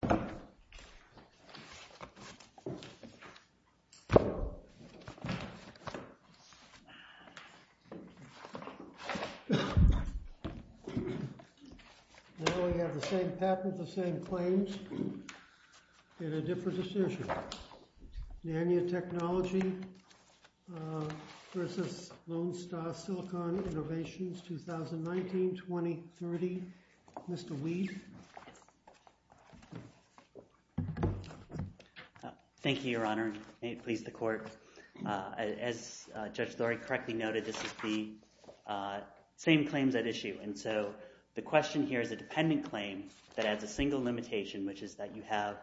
2019-2030. Mr. Weed. Mr. Weed. Thank you, Your Honor. May it please the Court. As Judge Lurie correctly noted, this is the same claims at issue, and so the question here is a dependent claim that has a single limitation, which is that you have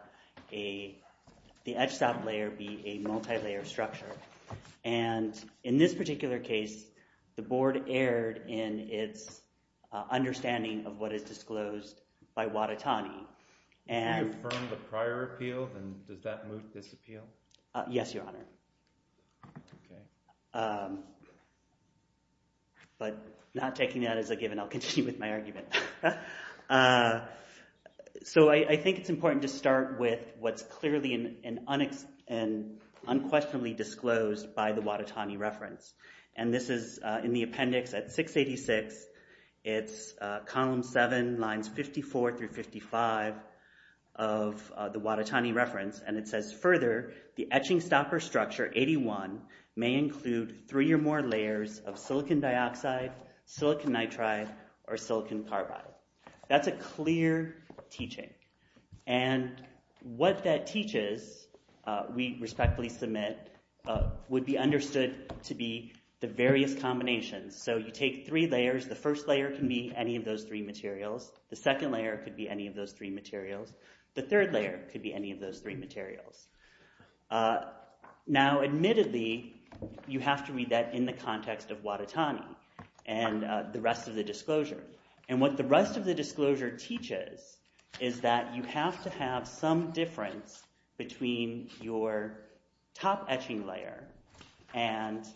the edge stop layer be a multi-layer structure. And in this particular case, the Board erred in its understanding of what is disclosed by the Wadetani reference. Can you confirm the prior appeal, and does that move this appeal? Yes, Your Honor. But not taking that as a given, I'll continue with my argument. So I think it's important to start with what's clearly and unquestionably disclosed by the Wadetani reference. And this is in the appendix at 686. It's column 7, lines 54 through 55 of the Wadetani reference. And it says, further, the etching stopper structure 81 may include three or more layers of silicon dioxide, silicon nitride, or silicon carbide. That's a clear teaching. And what that teaches, we respectfully submit, would be understood to be the various combinations. So you take three layers. The first layer can be any of those three materials. The second layer could be any of those three materials. The third layer could be any of those three materials. Now admittedly, you have to read that in the context of Wadetani and the rest of the disclosure. And what the rest of the disclosure teaches is that you have to have some difference between your top etching layer and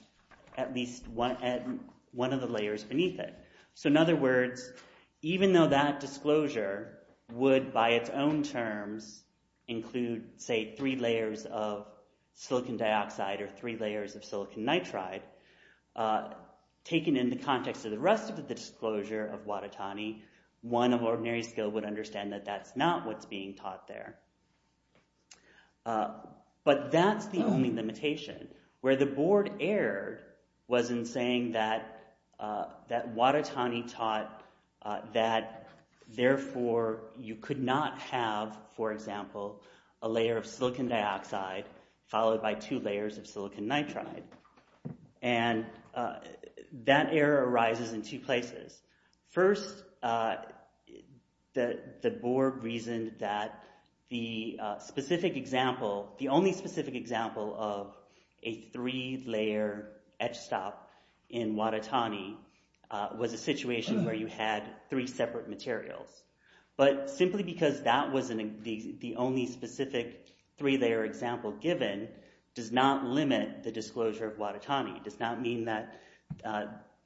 at least one of the layers. And that disclosure would, by its own terms, include, say, three layers of silicon dioxide or three layers of silicon nitride. Taken in the context of the rest of the disclosure of Wadetani, one of ordinary skill would understand that that's not what's being taught there. But that's the only limitation. Where the board erred was in saying that Wadetani taught that, therefore, you could not have, for example, a layer of silicon dioxide followed by two layers of silicon nitride. And that error arises in two places. First, the board reasoned that the only specific example of a three-layer etch stop in Wadetani was a layer that had three separate materials. But simply because that was the only specific three-layer example given does not limit the disclosure of Wadetani, does not mean that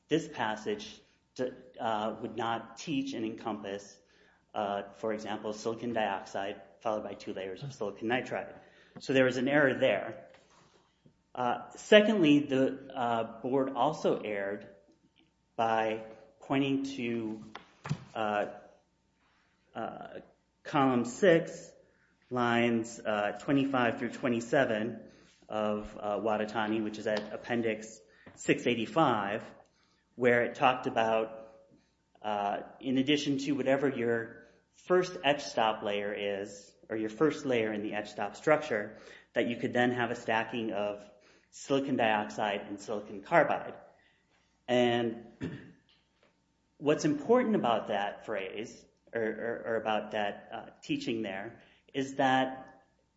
this passage would not teach and encompass, for example, silicon dioxide followed by two layers of silicon nitride. So there was an error there. Secondly, the board also erred by pointing to Column 6, Lines 25 through 27 of Wadetani, which is at Appendix 685, where it talked about, in addition to whatever your first etch stop layer is, or your first layer in the etch stop structure, that you could then have a stacking of silicon dioxide and silicon carbide. And what's important about that phrase, or about that teaching there, is that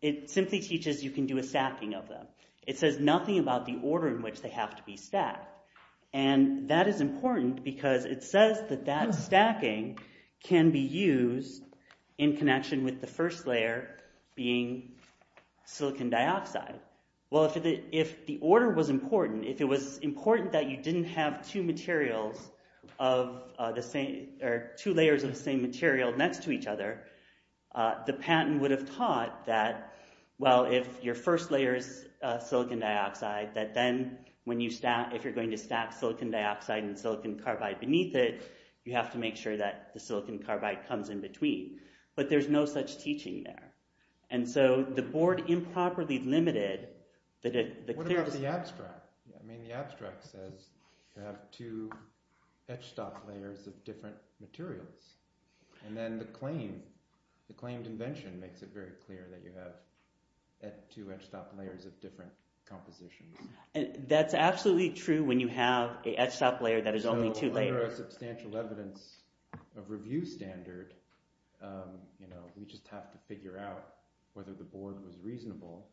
it simply teaches you can do a stacking of them. It says nothing about the order in which they are in connection with the first layer being silicon dioxide. Well, if the order was important, if it was important that you didn't have two materials of the same, or two layers of the same material next to each other, the patent would have taught that, well, if your first layer is silicon dioxide, that then when you stack, if you're going to stack silicon dioxide and silicon carbide beneath it, you have to make sure that the silicon carbide comes in between. But there's no such teaching there. And so the board improperly limited... What about the abstract? I mean, the abstract says you have two etch stop layers of different materials. And then the claim, the claimed invention makes it very clear that you have two etch stop layers of different compositions. That's absolutely true when you have an etch stop layer that is only two layers. There is substantial evidence of review standard. We just have to figure out whether the board was reasonable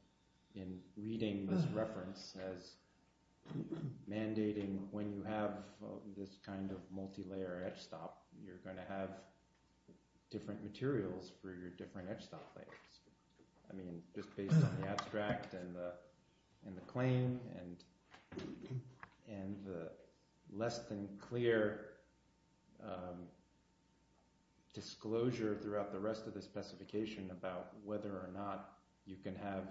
in reading this reference as mandating when you have this kind of multi-layer etch stop, you're going to have different materials for your different etch stop layers. Just based on the abstract and the claim and the less than clear disclosure throughout the rest of the specification about whether or not you can have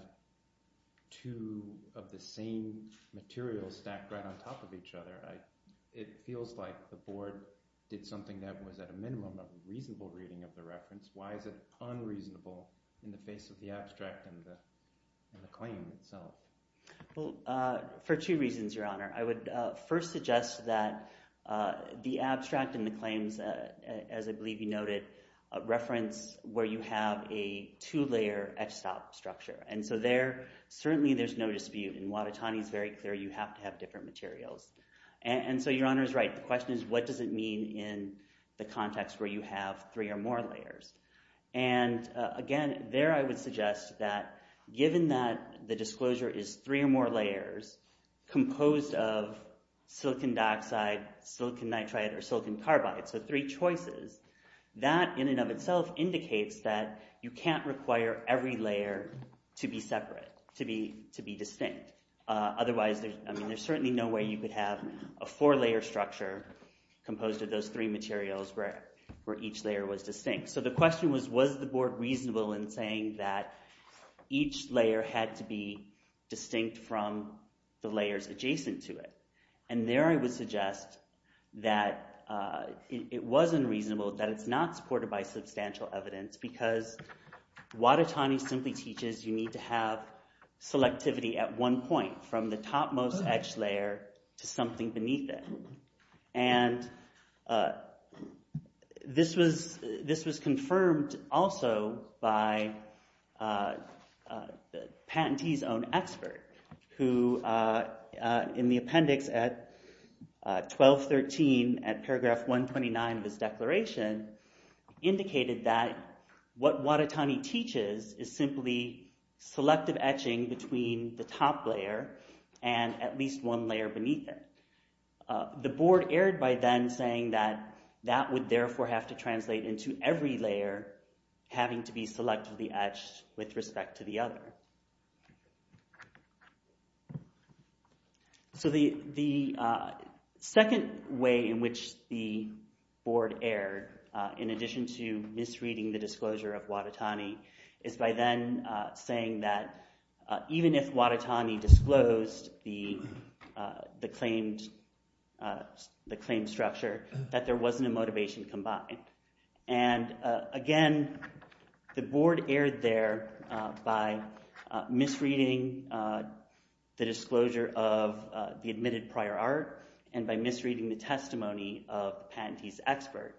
two of the same materials stacked right on top of each other, it feels like the board did something that was at a distance based on the abstract and the claim itself. For two reasons, Your Honor. I would first suggest that the abstract and the claims, as I believe you noted, reference where you have a two-layer etch stop structure. And so there, certainly there's no dispute. In Watatani, it's very clear you have to have different materials. And so Your Honor is right. The question is, what does it mean in the context where you have three or more layers? And again, there I would suggest that given that the disclosure is three or more layers composed of silicon dioxide, silicon nitride, or silicon carbide, so three choices, that in and of itself indicates that you can't require every layer to be separate, to be distinct. Otherwise, I mean, there's certainly no way you could have a four-layer structure composed of those three materials where each layer was distinct. So the question was, was the board reasonable in saying that each layer had to be distinct from the layers adjacent to it? And there I would suggest that it was unreasonable, that it's not supported by substantial evidence, because Watatani simply teaches you need to have selectivity at one point, from the topmost etched layer to something beneath it. And this was confirmed also by the patentee's own expert, who in the appendix at 1213 at between the top layer and at least one layer beneath it. The board erred by then saying that that would therefore have to translate into every layer having to be selectively etched with respect to the other. So the second way in which the board erred, in addition to misreading the disclosure of even if Watatani disclosed the claimed structure, that there wasn't a motivation combined. And again, the board erred there by misreading the disclosure of the admitted prior art, and by misreading the testimony of the patentee's expert.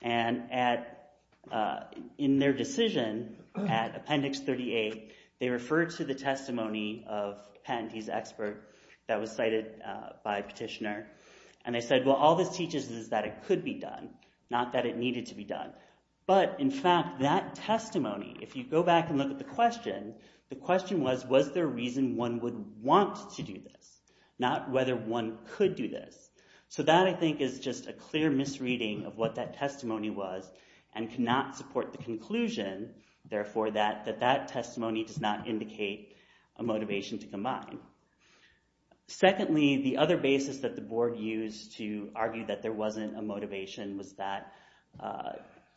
And in their decision at appendix 38, they referred to the testimony of patentee's expert that was cited by Petitioner, and they said, well, all this teaches is that it could be done, not that it needed to be done. But in fact, that testimony, if you go back and look at the question, the question was, was there a reason one would want to do this, not whether one could do this. So that, I think, is just a clear misreading of what that testimony was and cannot support the conclusion, therefore, that that testimony does not indicate a motivation to combine. Secondly, the other basis that the board used to argue that there wasn't a motivation was that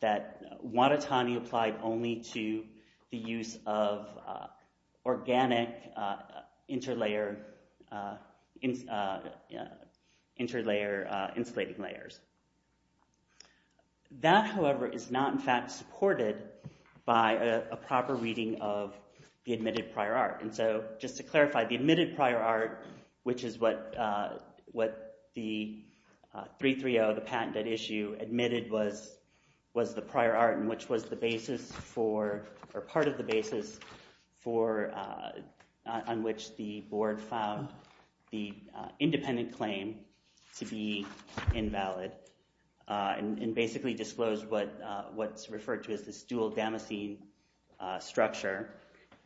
there were no organic interlayer insulating layers. That, however, is not, in fact, supported by a proper reading of the admitted prior art. And so, just to clarify, the admitted prior art, which is what the 330, the patented issue, admitted was the prior art and which was the basis for, or part of the basis for, on which the board found the independent claim to be invalid and basically disclosed what's referred to as this dual damascene structure.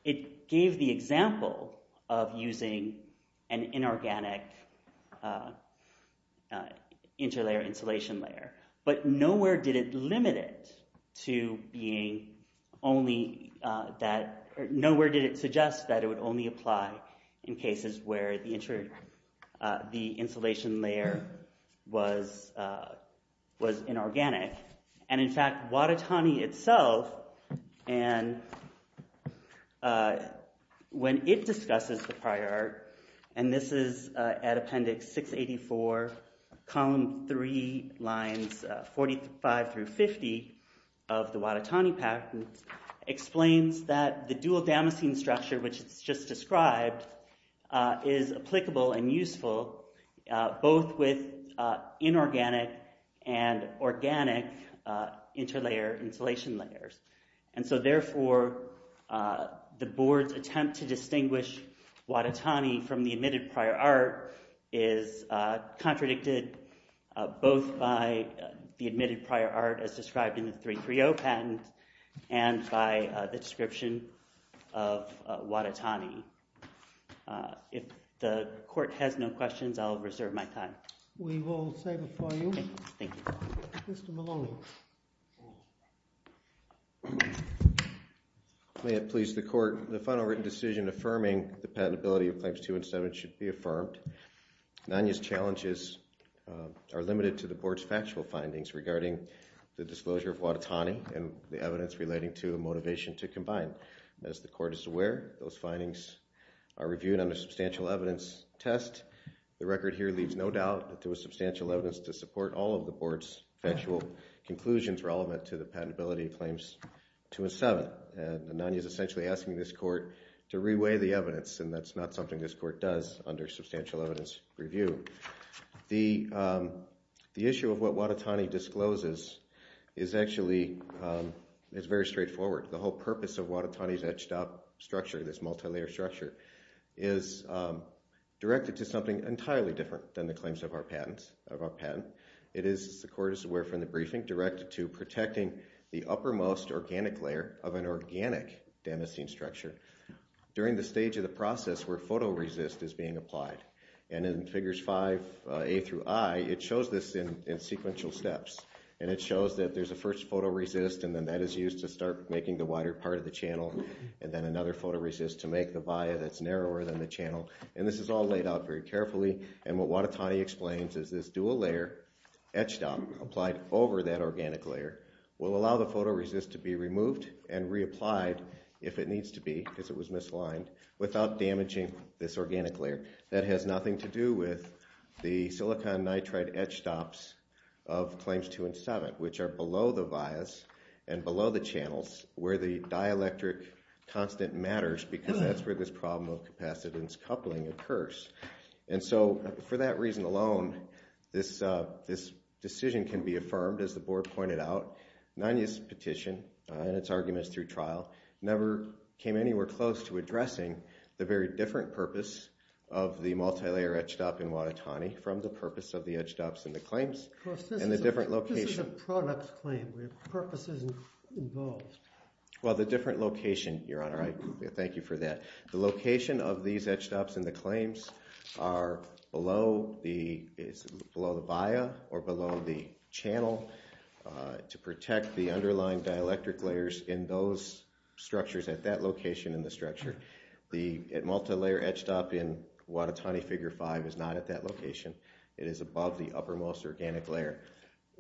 It gave the example of using an inorganic interlayer insulation layer, but nowhere did it limit it to being only that, nowhere did it suggest that it would only apply in cases where the insulation layer was inorganic. And, in fact, Watatani itself, when it discusses the prior art, and this is at Appendix 684, Column 3, Lines 45 through 50 of the Watatani patent, explains that the dual damascene structure, which it's just described, is applicable and useful, both with inorganic and organic interlayer insulation layers. And so, therefore, the board's attempt to distinguish Watatani from the admitted prior art is contradicted both by the admitted prior art as described in the 330 patent and by the description of Watatani. If the court has no questions, I'll reserve my time. We will save it for you. Thank you. Mr. Maloney. May it please the court, the final written decision affirming the patentability of Claims 2 and 7 should be affirmed. NANIA's challenges are limited to the board's factual findings regarding the disclosure of Watatani and the evidence relating to a motivation to combine. As the court is aware, those findings are reviewed under substantial evidence test. The record here leaves no doubt that there was substantial evidence to support all of the board's factual conclusions relevant to the patentability of Claims 2 and 7. And NANIA is essentially asking this court to reweigh the evidence, and that's not something this court does under substantial evidence review. The issue of what Watatani discloses is actually very straightforward. The whole purpose of Watatani's etched-up structure, this multi-layer structure, is directed to something entirely different than the claims of our patent. It is, as the court is aware from the briefing, directed to protecting the uppermost organic layer of an organic damascene structure during the stage of the process where photoresist is being applied. And in Figures 5a through i, it shows this in sequential steps. And it shows that there's a first photoresist, and then that is used to start making the wider part of the channel, and then another photoresist to make the via that's narrower than the channel. And this is all laid out very carefully. And what Watatani explains is this dual-layer etched-up applied over that organic layer will allow the photoresist to be removed and reapplied if it needs to be, because it was misaligned, without damaging this organic layer. That has nothing to do with the silicon nitride etch stops of Claims 2 and 7, which are below the vias and below the channels where the dielectric constant matters because that's where this problem of capacitance coupling occurs. And so for that reason alone, this decision can be affirmed, as the board pointed out. Nanya's petition and its arguments through trial never came anywhere close to addressing the very different purpose of the multilayer etched-up in Watatani from the purpose of the etched-ups in the claims and the different location. This is a product claim. The purpose isn't involved. Well, the different location, Your Honor, I thank you for that. The location of these etched-ups in the claims are below the via or below the channel to protect the underlying dielectric layers in those structures at that location in the structure. The multilayer etched-up in Watatani Figure 5 is not at that location. It is above the uppermost organic layer.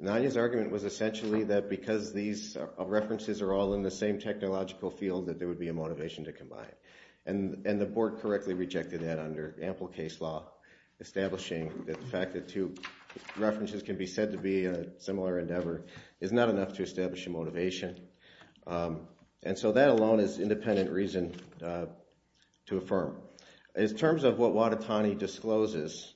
Nanya's argument was essentially that because these references are all in the same technological field that there would be a motivation to combine. And the board correctly rejected that under ample case law, establishing that the fact that two references can be said to be a similar endeavor is not enough to establish a motivation. And so that alone is independent reason to affirm. In terms of what Watatani discloses,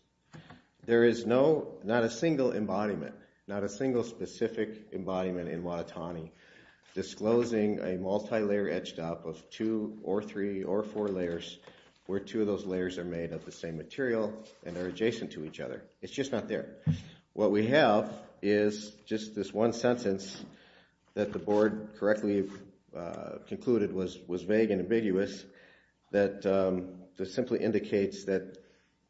there is not a single embodiment, not a single specific embodiment in Watatani disclosing a multilayer etched-up of two or three or four layers where two of those layers are made of the same material and are adjacent to each other. It's just not there. What we have is just this one sentence that the board correctly concluded was vague and ambiguous that simply indicates that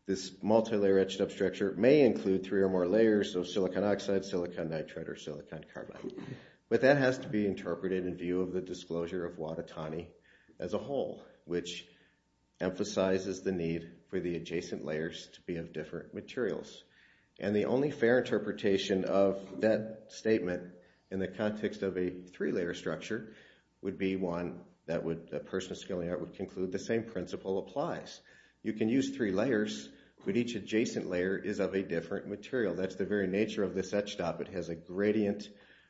this multilayer etched-up structure may include three or more layers of silicon oxide, silicon nitride, or silicon carbide. But that has to be interpreted in view of the disclosure of Watatani as a whole, which emphasizes the need for the adjacent layers to be of different materials. And the only fair interpretation of that statement in the context of a three-layer structure would be one that a person of skill and art would conclude the same principle applies. You can use three layers, but each adjacent layer is of a different material. That's the very nature of this etched-up. It has a gradient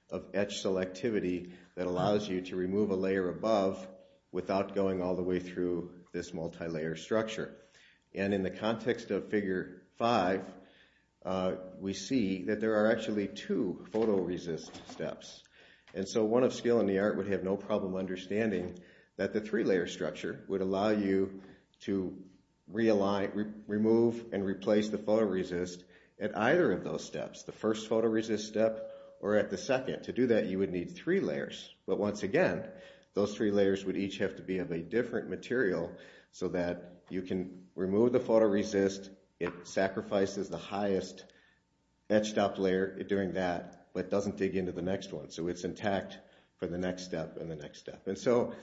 of etch selectivity that allows you to remove a layer above without going all the way through this multilayer structure. And in the context of Figure 5, we see that there are actually two photoresist steps. And so one of skill and the art would have no problem understanding that the three-layer structure would allow you to remove and replace the photoresist at either of those steps, the first photoresist step or at the second. To do that, you would need three layers. But once again, those three layers would each have to be of a different material so that you can remove the photoresist. It sacrifices the highest etched-up layer during that, but doesn't dig into the next one. So it's intact for the next step and the next step. And so,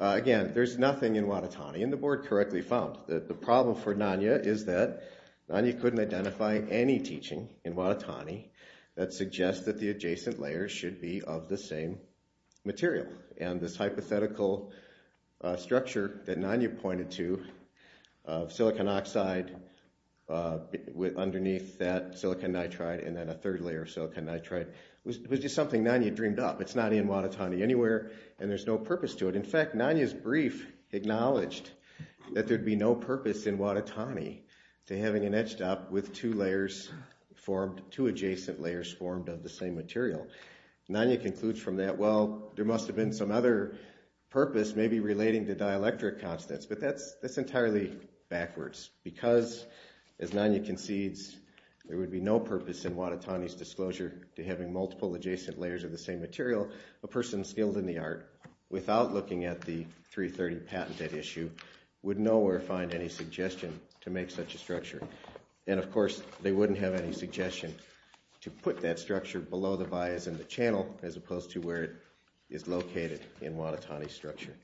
again, there's nothing in Watatani, and the board correctly found. The problem for Nanya is that Nanya couldn't identify any teaching in Watatani that suggests that the adjacent layers should be of the same material. And this hypothetical structure that Nanya pointed to of silicon oxide underneath that silicon nitride and then a third layer of silicon nitride was just something Nanya dreamed up. It's not in Watatani anywhere, and there's no purpose to it. In fact, Nanya's brief acknowledged that there'd be no purpose in Watatani to having an etched-up with two adjacent layers formed of the same material. Nanya concludes from that, well, there must have been some other purpose, maybe relating to dielectric constants, but that's entirely backwards. Because, as Nanya concedes, there would be no purpose in Watatani's disclosure to having multiple adjacent layers of the same material, a person skilled in the art, without looking at the 330 patent at issue, would nowhere find any suggestion to make such a structure. And, of course, they wouldn't have any suggestion to put that structure below the vias in the channel as opposed to where it is located in Watatani's structure.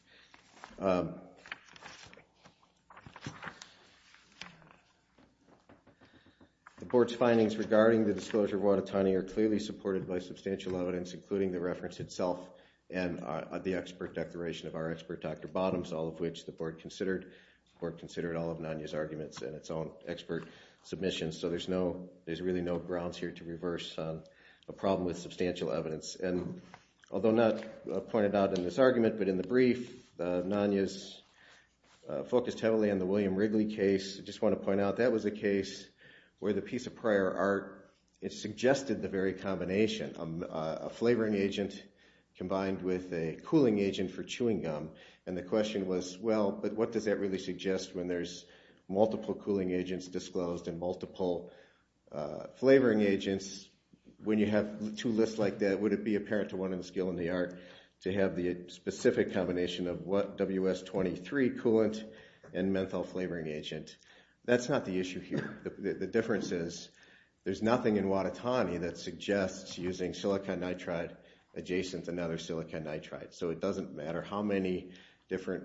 The Board's findings regarding the disclosure of Watatani are clearly supported by substantial evidence, including the reference itself and the expert declaration of our expert, Dr. Bottoms, all of which the Board considered. The Board considered all of Nanya's arguments in its own expert submissions. So there's really no grounds here to reverse a problem with substantial evidence. And although not pointed out in this argument, but in the brief, Nanya's focused heavily on the William Wrigley case. I just want to point out that was a case where the piece of prior art, it suggested the very combination, a flavoring agent combined with a cooling agent for chewing gum. And the question was, well, but what does that really suggest when there's multiple cooling agents disclosed and multiple flavoring agents? When you have two lists like that, would it be apparent to one of the skilled in the art to have the specific combination of WS-23 coolant and menthol flavoring agent? That's not the issue here. The difference is there's nothing in Watatani that suggests using silicon nitride adjacent to another silicon nitride. So it doesn't matter how many different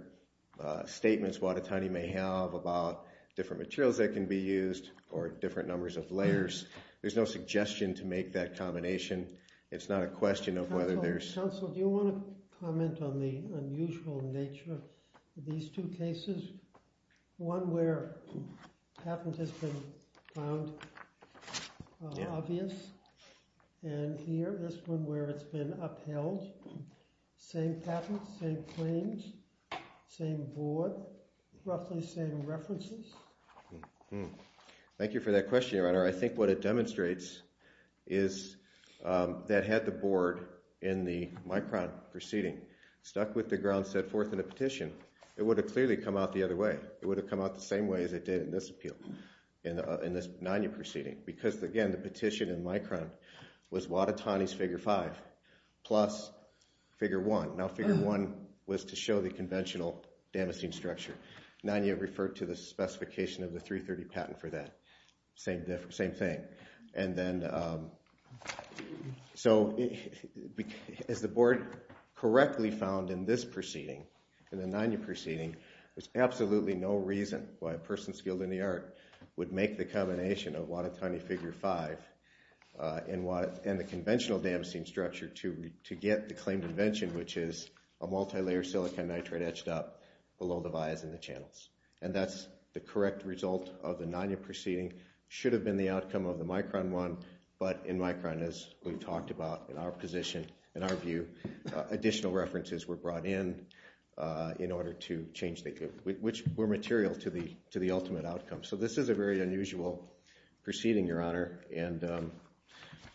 statements Watatani may have about different materials that can be used or different numbers of layers. There's no suggestion to make that combination. It's not a question of whether there's... Counsel, do you want to comment on the unusual nature of these two cases? One where patent has been found obvious, and here, this one where it's been upheld. Same patent, same claims, same board, roughly same references. Thank you for that question, Your Honor. I think what it demonstrates is that had the board in the Micron proceeding stuck with the ground, set forth in a petition, it would have clearly come out the other way. It would have come out the same way as it did in this appeal, in this NANU proceeding. Because again, the petition in Micron was Watatani's figure 5 plus figure 1. Now figure 1 was to show the conventional damascene structure. NANU referred to the specification of the 330 patent for that. Same thing. So as the board correctly found in this proceeding, in the NANU proceeding, there's absolutely no reason why a person skilled in the art would make the combination of Watatani figure 5 and the conventional damascene structure to get the claimed invention, which is a multilayer silicon nitride etched up below the vias in the channels. And that's the correct result of the NANU proceeding. Should have been the outcome of the Micron one, but in Micron, as we've talked about in our position, in our view, additional references were brought in in order to change, which were material to the ultimate outcome. So this is a very unusual proceeding, Your Honor.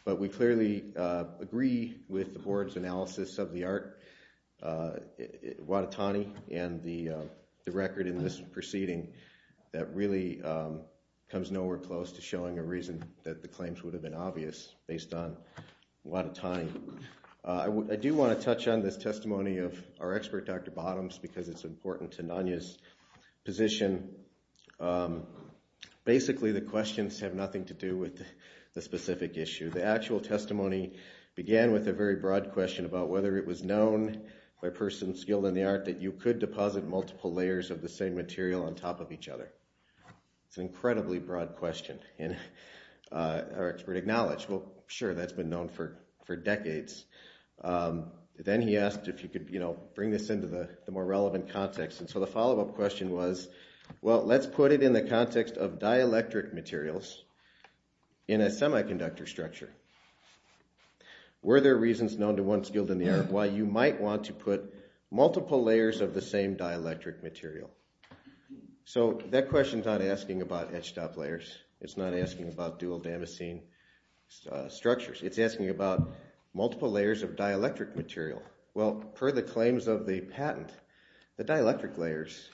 But we clearly agree with the board's analysis of the art, Watatani and the record in this proceeding that really comes nowhere close to showing a reason that the claims would have been obvious based on Watatani. I do want to touch on this testimony of our expert, Dr. Bottoms, because it's important to NANU's position. Basically, the questions have nothing to do with the specific issue. The actual testimony began with a very broad question about whether it was known by a person skilled in the art or by another. It's an incredibly broad question, and our expert acknowledged, well, sure, that's been known for decades. Then he asked if you could bring this into the more relevant context. And so the follow-up question was, well, let's put it in the context of dielectric materials in a semiconductor structure. Were there reasons known to one skilled in the art why you might want to put multiple layers of the same dielectric material? So that question's not asking about etched-up layers. It's not asking about dual-damascene structures. It's asking about multiple layers of dielectric material. Well, per the claims of the patent, the dielectric layers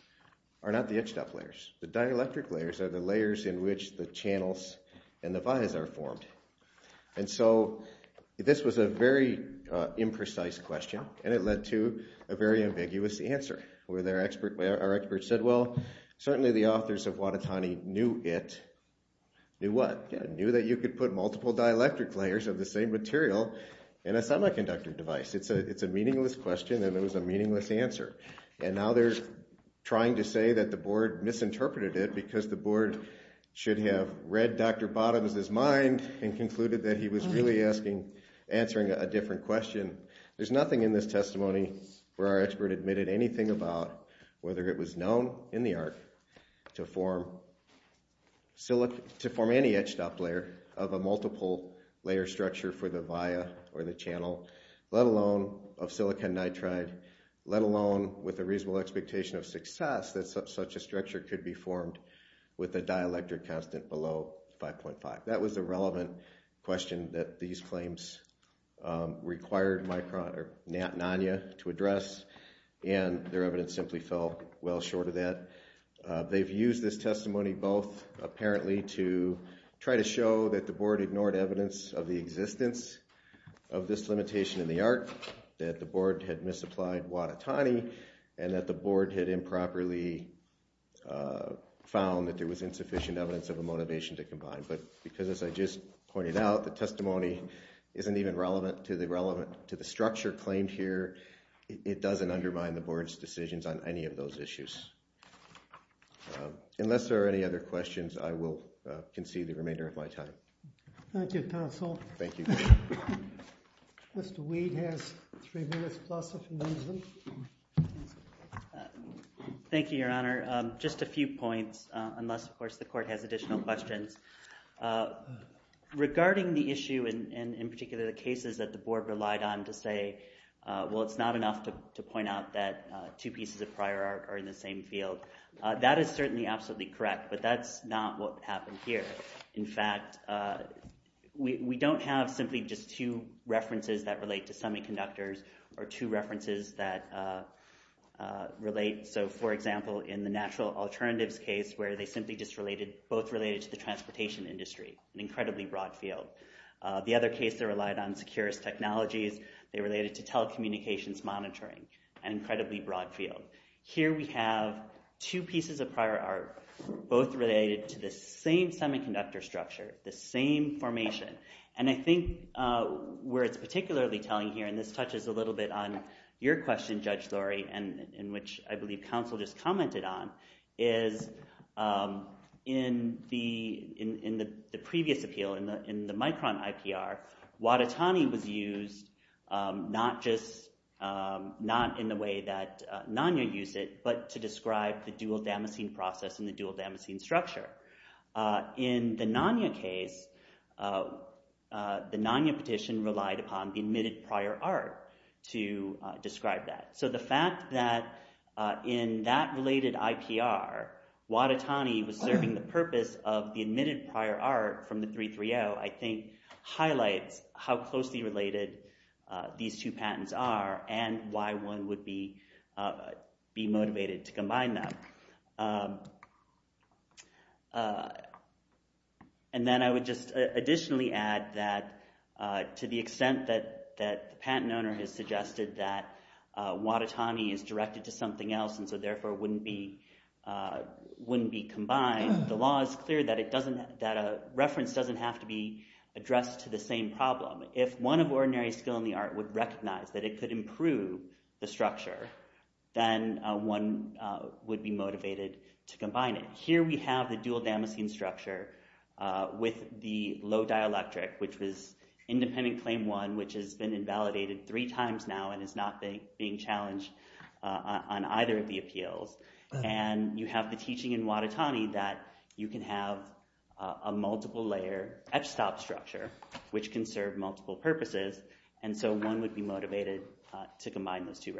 are not the etched-up layers. The dielectric layers are the layers in which the channels and the vias are formed. And so this was a very imprecise question, and it led to a very ambiguous answer, where our expert said, well, certainly the authors of Watatani knew it. Knew what? Knew that you could put multiple dielectric layers of the same material in a semiconductor device. It's a meaningless question, and it was a meaningless answer. And now they're trying to say that the board misinterpreted it because the board should have read Dr. Bottoms' mind and concluded that he was really asking, answering a different question. There's nothing in this testimony where our expert admitted anything about whether it was known in the art to form any etched-up layer of a multiple layer structure for the via or the channel, let alone of silicon nitride, let alone with a reasonable expectation of success that such a layer is a dielectric constant below 5.5. That was a relevant question that these claims required my, or Nat and Anya, to address, and their evidence simply fell well short of that. They've used this testimony both apparently to try to show that the board ignored evidence of the existence of this limitation in the art, that the board had misapplied Watatani, and that the board had improperly found that there was insufficient evidence of a motivation to combine. But because, as I just pointed out, the testimony isn't even relevant to the structure claimed here, it doesn't undermine the board's decisions on any of those issues. Unless there are any other questions, I will concede the remainder of my time. Thank you, counsel. Mr. Weed has three minutes plus if he needs them. Thank you, Your Honor. Just a few points, unless, of course, the court has additional questions. Regarding the issue, and in particular the cases that the board relied on to say, well, it's not enough to point out that two pieces of prior art are in the same field, that is certainly absolutely correct, but that's not what happened here. In fact, we don't have simply just two references that relate. So, for example, in the natural alternatives case, where they simply just related, both related to the transportation industry, an incredibly broad field. The other case that relied on securities technologies, they related to telecommunications monitoring, an incredibly broad field. Here we have two pieces of prior art, both related to the same semiconductor structure, the same formation. And I think where it's particularly telling here, and this touches a little bit on your question, Judge Lurie, in which I believe counsel just commented on, is in the previous appeal, in the Micron IPR, Watatani was used not just, not in the way that NANYA used it, but to describe the dual-damascene process and the dual-damascene structure. In the NANYA case, the NANYA petition relied upon the admitted prior art to describe that. So the fact that in that related IPR, Watatani was serving the purpose of the admitted prior art from the 330, I think highlights how closely related these two patents are and why one would be motivated to combine them. And then I would just additionally add that to the extent that the patent owner has suggested that Watatani is directed to something else and so therefore wouldn't be combined, the law is clear that a reference doesn't have to be addressed to the same problem. If one of ordinary skill in the art would recognize that it could improve the structure, then one would be motivated to have the dual-damascene structure with the low dielectric, which was independent claim one, which has been invalidated three times now and is not being challenged on either of the appeals. And you have the teaching in Watatani that you can have a multiple layer etch stop structure, which can serve multiple purposes, and so one would be motivated to combine those two cases.